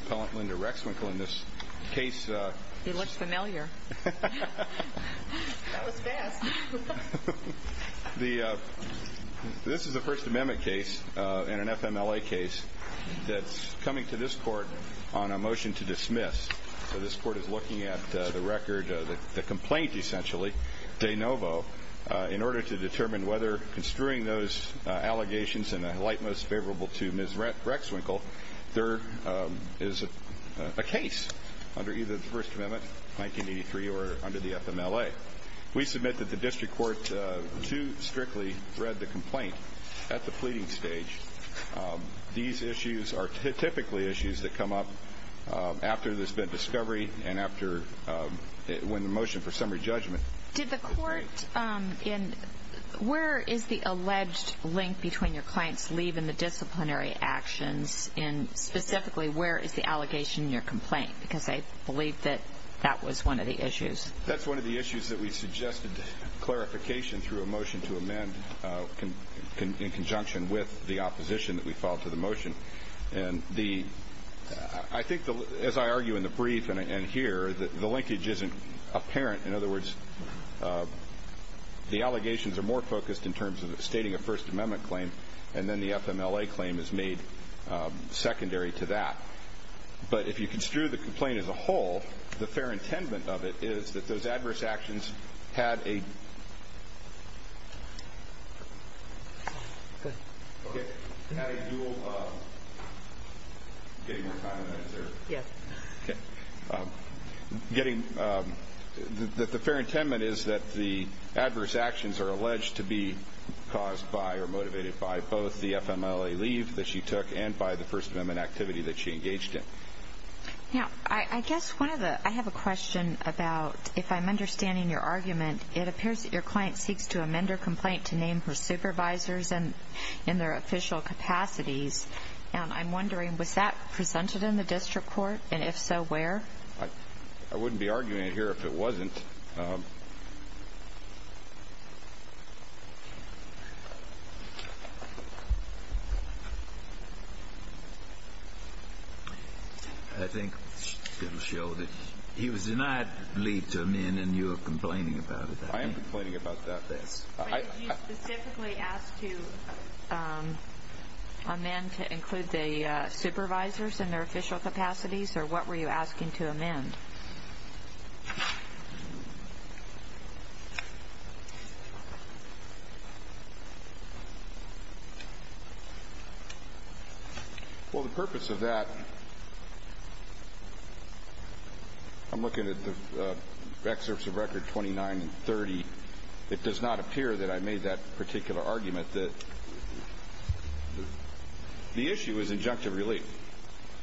Appellant Linda Rexwinkel This is a First Amendment case and an FMLA case that's coming to this court on a motion to dismiss. So this court is looking at the record, the complaint essentially, de novo, in order to determine whether construing those allegations in a light most favorable to Ms. Rexwinkel, there is a case under either the First Amendment, 1983, or under the FMLA. We submit that the district court too strictly read the complaint at the pleading stage. These issues are typically issues that come up after there's been discovery and after when the motion for summary judgment was made. Did the court, where is the alleged link between your client's leave and the disciplinary actions, and specifically where is the allegation in your complaint, because I believe that that was one of the issues. That's one of the issues that we suggested clarification through a motion to amend in conjunction with the opposition that we filed to the motion. And I think, as I argue in the brief and here, the linkage isn't apparent. In other words, the allegations are more focused in terms of stating a First Amendment claim and then the FMLA claim is made secondary to that. But if you construe the complaint as a whole, the fair intendent of it is that those adverse Getting more time than I deserve. Yes. Okay. Getting, the fair intent is that the adverse actions are alleged to be caused by or motivated by both the FMLA leave that she took and by the First Amendment activity that she engaged in. Now, I guess one of the, I have a question about, if I'm understanding your argument, it appears that your client seeks to amend her complaint to name her supervisors in their official capacities. And I'm wondering, was that presented in the district court? And if so, where? I wouldn't be arguing it here if it wasn't. I think it will show that he was denied leave to amend and you are complaining about it. I am complaining about that. But did you specifically ask to amend to include the supervisors in their official capacities? Or what were you asking to amend? Well, the purpose of that, I'm looking at the excerpts of record 29 and 30. It does not appear that I made that particular argument that the issue is injunctive relief.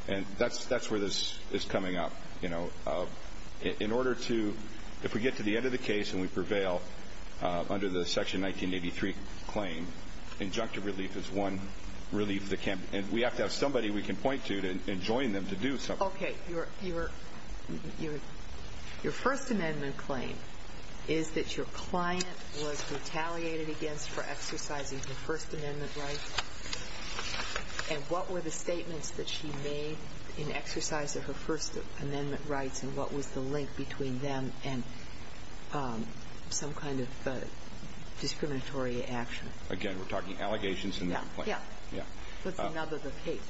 And that's where this is coming up. You know, in order to, if we get to the end of the case and we prevail under the Section 1983 claim, injunctive relief is one relief that can't, and we have to have somebody we can point to and join them to do something. Okay. Your First Amendment claim is that your client was retaliated against for exercising the First Amendment rights. And what were the statements that she made in exercise of her First Amendment rights and what was the link between them and some kind of discriminatory action? Again, we're talking allegations? Yeah. Yeah. What's another case?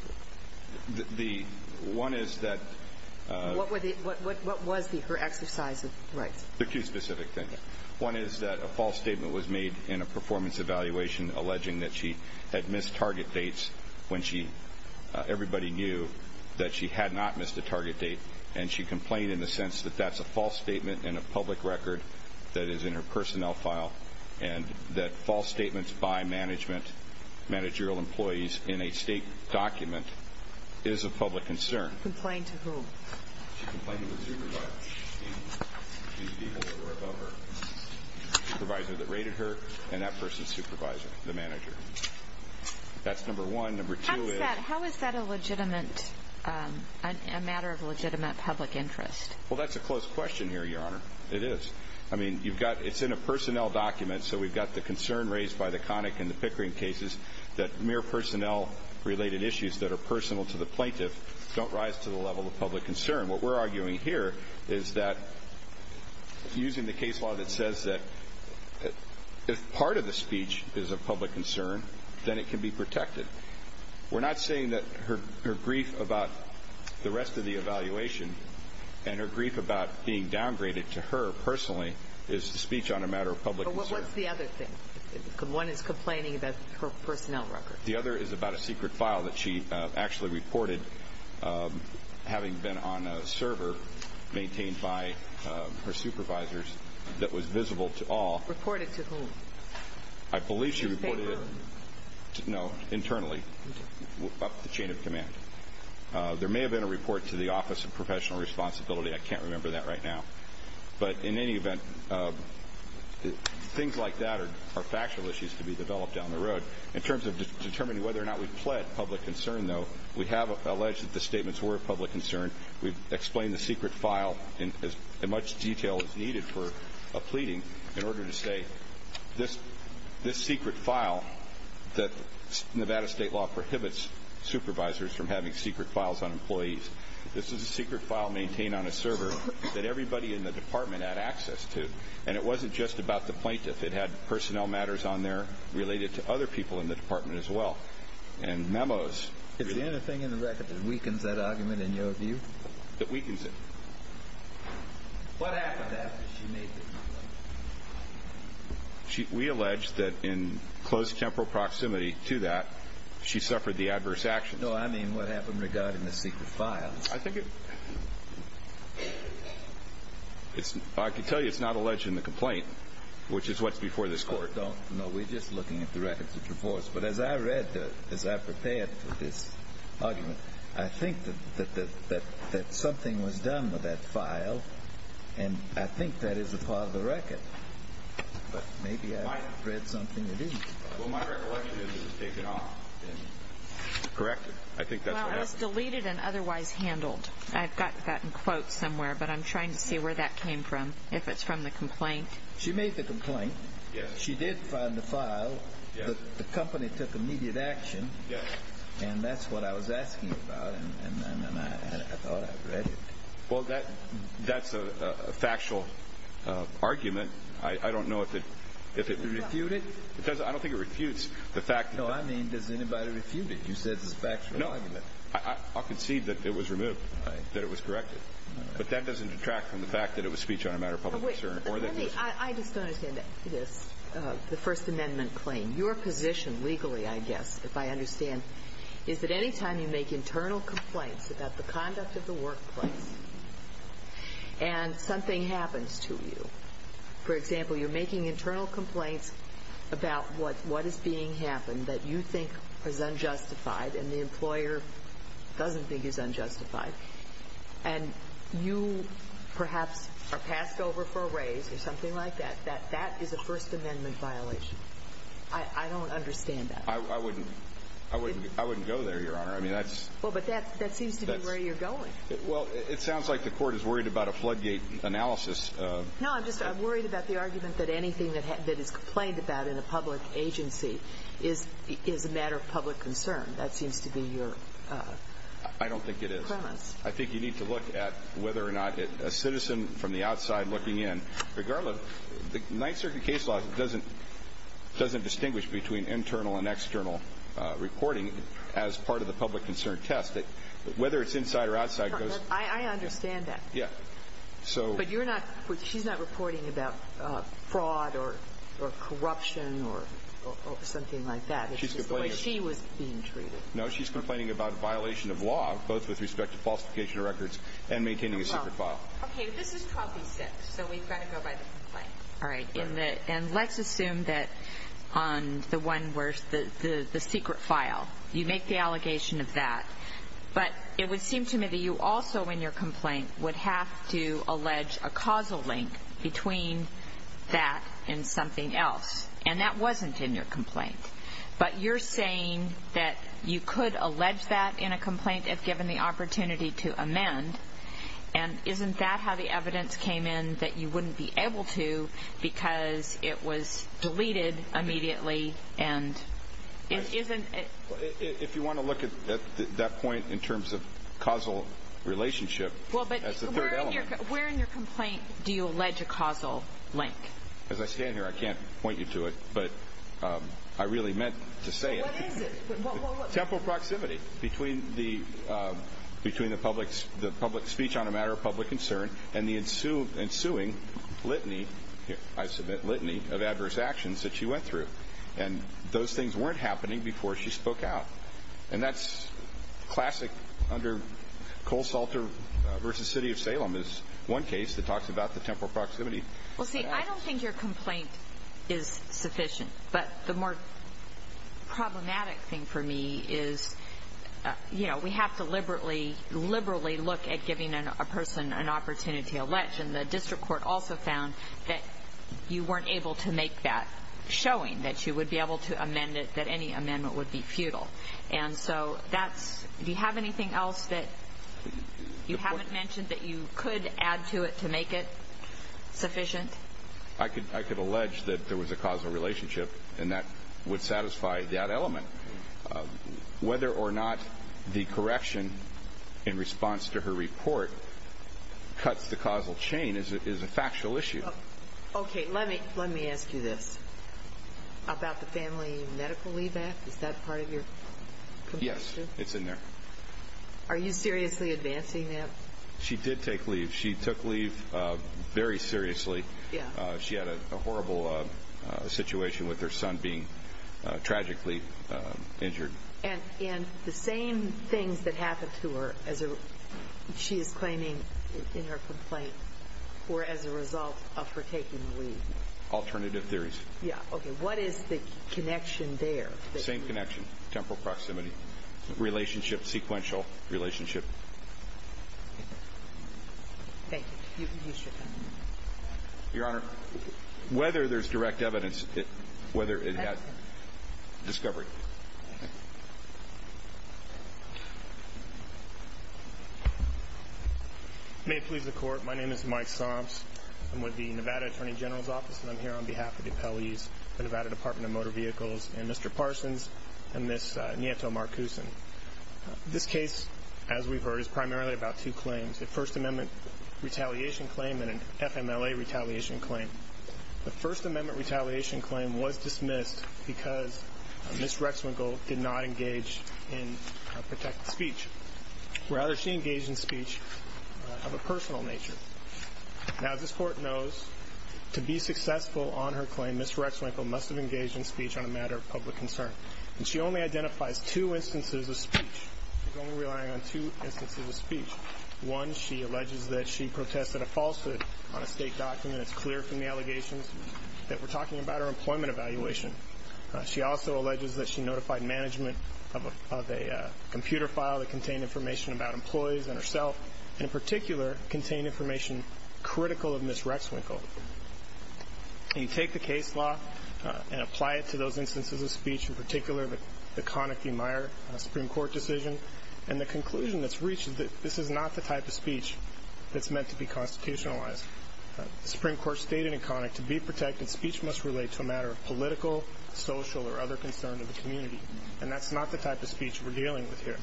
The one is that – What was her exercise of rights? The two specific things. One is that a false statement was made in a performance evaluation alleging that she had missed target dates when everybody knew that she had not missed a target date. And she complained in the sense that that's a false statement in a public record that is in her personnel file, and that false statements by management, managerial employees, in a state document is a public concern. Complained to whom? She complained to the supervisor, the supervisor that rated her, and that person's supervisor, the manager. That's number one. Number two is – How is that a matter of legitimate public interest? Well, that's a close question here, Your Honor. It is. I mean, you've got – it's in a personnel document, so we've got the concern raised by the Connick and the Pickering cases that mere personnel-related issues that are personal to the plaintiff don't rise to the level of public concern. What we're arguing here is that, using the case law that says that if part of the speech is a public concern, then it can be protected. We're not saying that her grief about the rest of the evaluation and her grief about being downgraded to her personally is a speech on a matter of public concern. But what's the other thing? One is complaining about her personnel record. The other is about a secret file that she actually reported having been on a server maintained by her supervisors that was visible to all. Reported to whom? I believe she reported it – Did you say whom? No, internally, up the chain of command. There may have been a report to the Office of Professional Responsibility. I can't remember that right now. But in any event, things like that are factual issues to be developed down the road. In terms of determining whether or not we've pled public concern, though, we have alleged that the statements were of public concern. We've explained the secret file in as much detail as needed for a pleading in order to say, this secret file that Nevada state law prohibits supervisors from having secret files on employees, this is a secret file maintained on a server that everybody in the department had access to. And it wasn't just about the plaintiff. It had personnel matters on there related to other people in the department as well. And memos. Is there anything in the record that weakens that argument in your view? That weakens it? What happened after she made the complaint? We allege that in close temporal proximity to that, she suffered the adverse actions. No, I mean what happened regarding the secret file. I can tell you it's not alleged in the complaint, which is what's before this court. No, we're just looking at the records of divorce. But as I read, as I prepared for this argument, I think that something was done with that file. And I think that is a part of the record. But maybe I read something that isn't. Well, my recollection is it was taken off and corrected. I think that's what happened. Well, it was deleted and otherwise handled. I've got that in quotes somewhere, but I'm trying to see where that came from. If it's from the complaint. She made the complaint. She did find the file. The company took immediate action. And that's what I was asking about. And I thought I read it. Well, that's a factual argument. I don't know if it refutes the fact. No, I mean does anybody refute it? You said this factual argument. No, I concede that it was removed, that it was corrected. But that doesn't detract from the fact that it was speech on a matter of public concern. I just don't understand this, the First Amendment claim. Your position legally, I guess, if I understand, is that any time you make internal complaints about the conduct of the workplace and something happens to you, for example, you're making internal complaints about what is being happened that you think is unjustified and the employer doesn't think is unjustified, and you perhaps are passed over for a raise or something like that, that that is a First Amendment violation. I don't understand that. I wouldn't go there, Your Honor. Well, but that seems to be where you're going. Well, it sounds like the court is worried about a floodgate analysis. No, I'm just worried about the argument that anything that is complained about in a public agency is a matter of public concern. That seems to be your premise. I don't think it is. I think you need to look at whether or not a citizen from the outside looking in, regardless of the Ninth Circuit case law doesn't distinguish between internal and external reporting as part of the public concern test, whether it's inside or outside goes. I understand that. Yeah. But she's not reporting about fraud or corruption or something like that. It's just the way she was being treated. No, she's complaining about violation of law, both with respect to falsification of records and maintaining a secret file. Okay, but this is 12 v. 6, so we've got to go by the complaint. All right, and let's assume that on the one where the secret file, you make the allegation of that, but it would seem to me that you also, in your complaint, would have to allege a causal link between that and something else, and that wasn't in your complaint. But you're saying that you could allege that in a complaint if given the opportunity to amend, and isn't that how the evidence came in that you wouldn't be able to because it was deleted immediately? If you want to look at that point in terms of causal relationship, that's the third element. Where in your complaint do you allege a causal link? As I stand here, I can't point you to it, but I really meant to say it. What is it? Temporal proximity between the public speech on a matter of public concern and the ensuing litany, I submit litany, of adverse actions that she went through, and those things weren't happening before she spoke out. And that's classic under Cole Salter v. City of Salem is one case that talks about the temporal proximity. Well, see, I don't think your complaint is sufficient, but the more problematic thing for me is, you know, we have to liberally look at giving a person an opportunity to allege, and the district court also found that you weren't able to make that showing, that you would be able to amend it, that any amendment would be futile. And so do you have anything else that you haven't mentioned that you could add to it to make it sufficient? I could allege that there was a causal relationship, and that would satisfy that element. Whether or not the correction in response to her report cuts the causal chain is a factual issue. Okay, let me ask you this. About the family medical leave act, is that part of your confession? Yes, it's in there. Are you seriously advancing that? She did take leave. She took leave very seriously. She had a horrible situation with her son being tragically injured. And the same things that happened to her as she is claiming in her complaint were as a result of her taking leave? Alternative theories. Yeah, okay. What is the connection there? Same connection, temporal proximity, relationship, sequential relationship. Thank you. You should know. Your Honor, whether there's direct evidence, whether it has discovery. May it please the Court. My name is Mike Psalms. I'm with the Nevada Attorney General's Office, and I'm here on behalf of the appellees of the Nevada Department of Motor Vehicles and Mr. Parsons and Ms. Nieto-Marcusen. This case, as we've heard, is primarily about two claims, a First Amendment retaliation claim and an FMLA retaliation claim. The First Amendment retaliation claim was dismissed because Ms. Rexwinkle did not engage in protected speech. Rather, she engaged in speech of a personal nature. Now, as this Court knows, to be successful on her claim, Ms. Rexwinkle must have engaged in speech on a matter of public concern. And she only identifies two instances of speech. She's only relying on two instances of speech. One, she alleges that she protested a falsehood on a state document. It's clear from the allegations that we're talking about her employment evaluation. She also alleges that she notified management of a computer file that contained information about employees and herself, and in particular, contained information critical of Ms. Rexwinkle. You take the case law and apply it to those instances of speech, in particular the Conakry-Meyer Supreme Court decision, and the conclusion that's reached is that this is not the type of speech that's meant to be constitutionalized. The Supreme Court stated in Conakry, to be protected, speech must relate to a matter of political, social, or other concerns of the community. And that's not the type of speech we're dealing with here.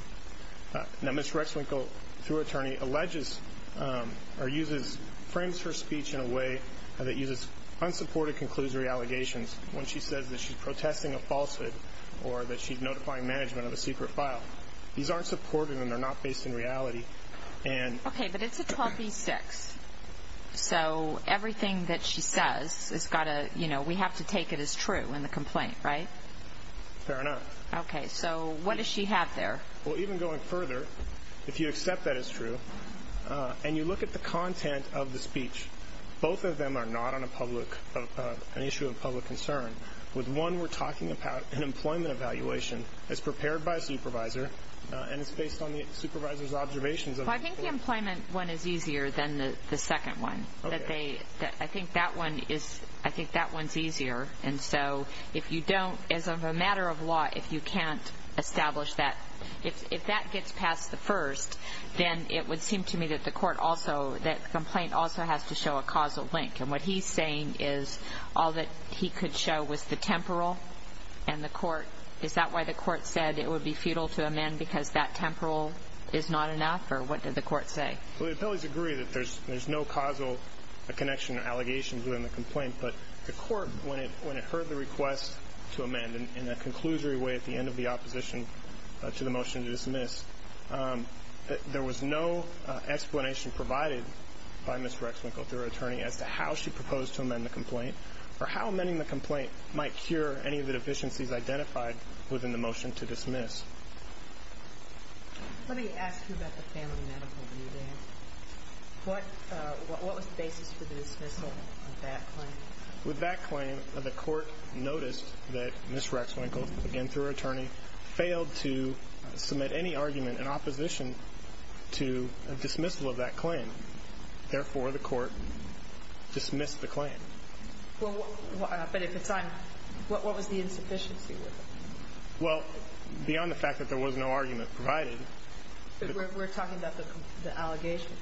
Now, Ms. Rexwinkle, through her attorney, alleges or uses, frames her speech in a way that uses unsupported conclusory allegations when she says that she's protesting a falsehood or that she's notifying management of a secret file. These aren't supported and they're not based in reality. Okay, but it's a 12b-6, so everything that she says, we have to take it as true in the complaint, right? Fair enough. Okay, so what does she have there? Well, even going further, if you accept that it's true, and you look at the content of the speech, both of them are not an issue of public concern. With one, we're talking about an employment evaluation that's prepared by a supervisor, and it's based on the supervisor's observations. Well, I think the employment one is easier than the second one. I think that one's easier, and so if you don't, as a matter of law, if you can't establish that, if that gets past the first, then it would seem to me that the complaint also has to show a causal link. And what he's saying is all that he could show was the temporal and the court. Is that why the court said it would be futile to amend because that temporal is not enough, or what did the court say? Well, the appellees agree that there's no causal connection or allegations within the complaint, but the court, when it heard the request to amend in a conclusory way at the end of the opposition to the motion to dismiss, there was no explanation provided by Ms. Rexwinkle through her attorney as to how she proposed to amend the complaint or how amending the complaint might cure any of the deficiencies identified within the motion to dismiss. Let me ask you about the family medical review then. What was the basis for the dismissal of that claim? With that claim, the court noticed that Ms. Rexwinkle, again through her attorney, failed to submit any argument in opposition to a dismissal of that claim. Therefore, the court dismissed the claim. But what was the insufficiency? Well, beyond the fact that there was no argument provided. But we're talking about the allegations,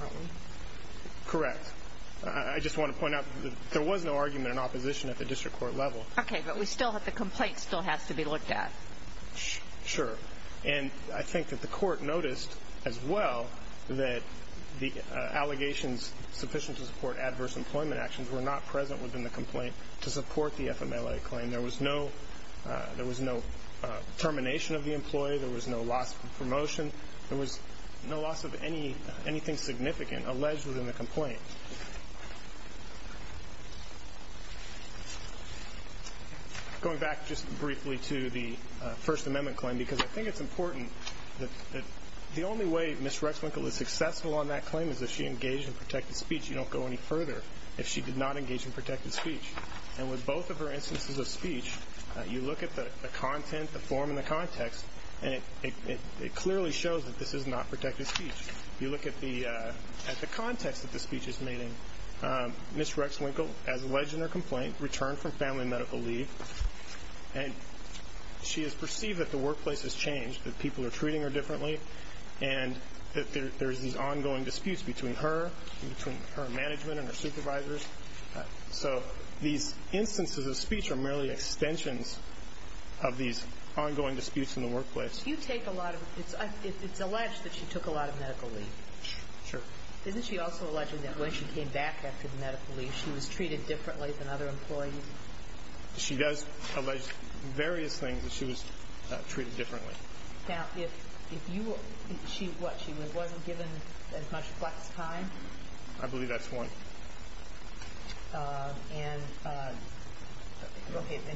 aren't we? Correct. I just want to point out that there was no argument in opposition at the district court level. Okay, but the complaint still has to be looked at. Sure. And I think that the court noticed as well that the allegations sufficient to support adverse employment actions were not present within the complaint to support the FMLA claim. There was no termination of the employee. There was no loss of promotion. There was no loss of anything significant alleged within the complaint. Going back just briefly to the First Amendment claim, because I think it's important that the only way Ms. Rexwinkle is successful on that claim is if she engaged in protected speech. You don't go any further if she did not engage in protected speech. And with both of her instances of speech, you look at the content, the form, and the context, and it clearly shows that this is not protected speech. If you look at the context that the speech is made in, Ms. Rexwinkle, as alleged in her complaint, returned from family medical leave, and she has perceived that the workplace has changed, that people are treating her differently, and that there are these ongoing disputes between her and between her management and her supervisors. So these instances of speech are merely extensions of these ongoing disputes in the workplace. If you take a lot of it, it's alleged that she took a lot of medical leave. Sure. Isn't she also alleging that when she came back after the medical leave, she was treated differently than other employees? She does allege various things that she was treated differently. Now, if she wasn't given as much flex time? I believe that's one. And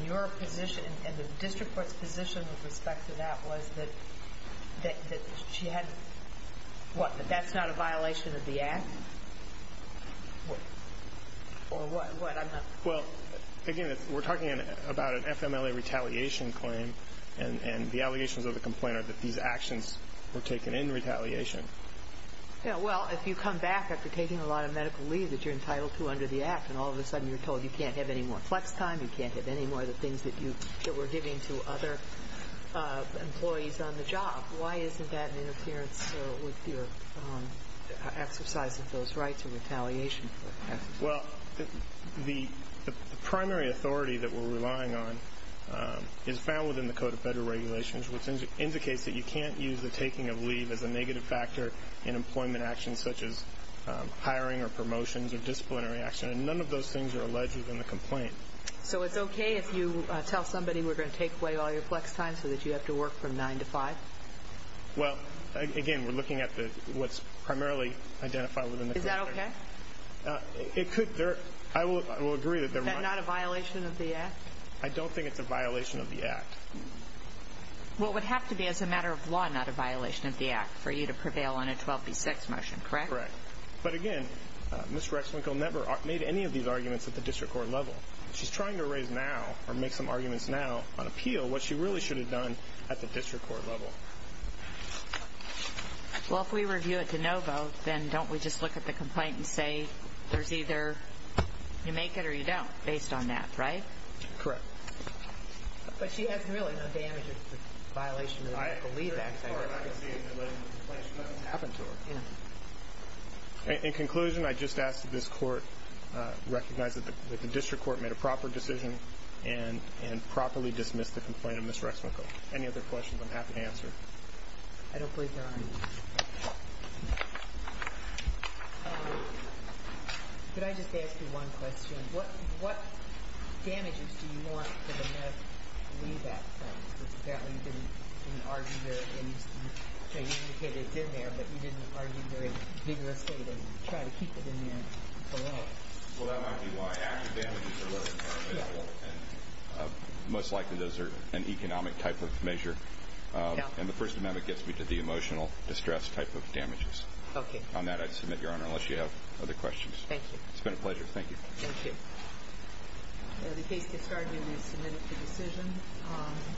your position and the district court's position with respect to that was that she had what? That that's not a violation of the act? Or what? Well, again, we're talking about an FMLA retaliation claim, and the allegations of the complaint are that these actions were taken in retaliation. Well, if you come back after taking a lot of medical leave that you're entitled to under the act, and all of a sudden you're told you can't have any more flex time, you can't have any more of the things that you were giving to other employees on the job, why isn't that an interference with your exercise of those rights of retaliation? Well, the primary authority that we're relying on is found within the Code of Federal Regulations, which indicates that you can't use the taking of leave as a negative factor in employment actions such as hiring or promotions or disciplinary action, and none of those things are alleged within the complaint. So it's okay if you tell somebody we're going to take away all your flex time so that you have to work from 9 to 5? Well, again, we're looking at what's primarily identified within the Code of Federal Regulations. Is that okay? It could. I will agree that there might be. Is that not a violation of the act? I don't think it's a violation of the act. Well, it would have to be as a matter of law not a violation of the act for you to prevail on a 12B6 motion, correct? Correct. But, again, Ms. Rexwinkel never made any of these arguments at the district court level. She's trying to raise now or make some arguments now on appeal what she really should have done at the district court level. Well, if we review it de novo, then don't we just look at the complaint and say there's either you make it or you don't based on that, right? Correct. But she has really no damage as a violation of the Rexwinkel Leave Act. I agree. As far as I can see, it's alleged in the complaint she doesn't have to. Yeah. In conclusion, I just ask that this court recognize that the district court made a proper decision and properly dismiss the complaint of Ms. Rexwinkel. Any other questions I'm happy to answer? I don't believe there are any. Could I just ask you one question? What damages do you want for the meth leave-out funds? Because apparently you didn't argue there and you indicated it's in there, but you didn't argue very vigorously that you'd try to keep it in there for long. Well, that might be why. Active damages are what I'm talking about. Most likely those are an economic type of measure. And the first amendment gets me to the emotional distress type of damages. Okay. On that, I submit, Your Honor, unless you have other questions. Thank you. It's been a pleasure. Thank you. Thank you. The case gets started and is submitted for decision.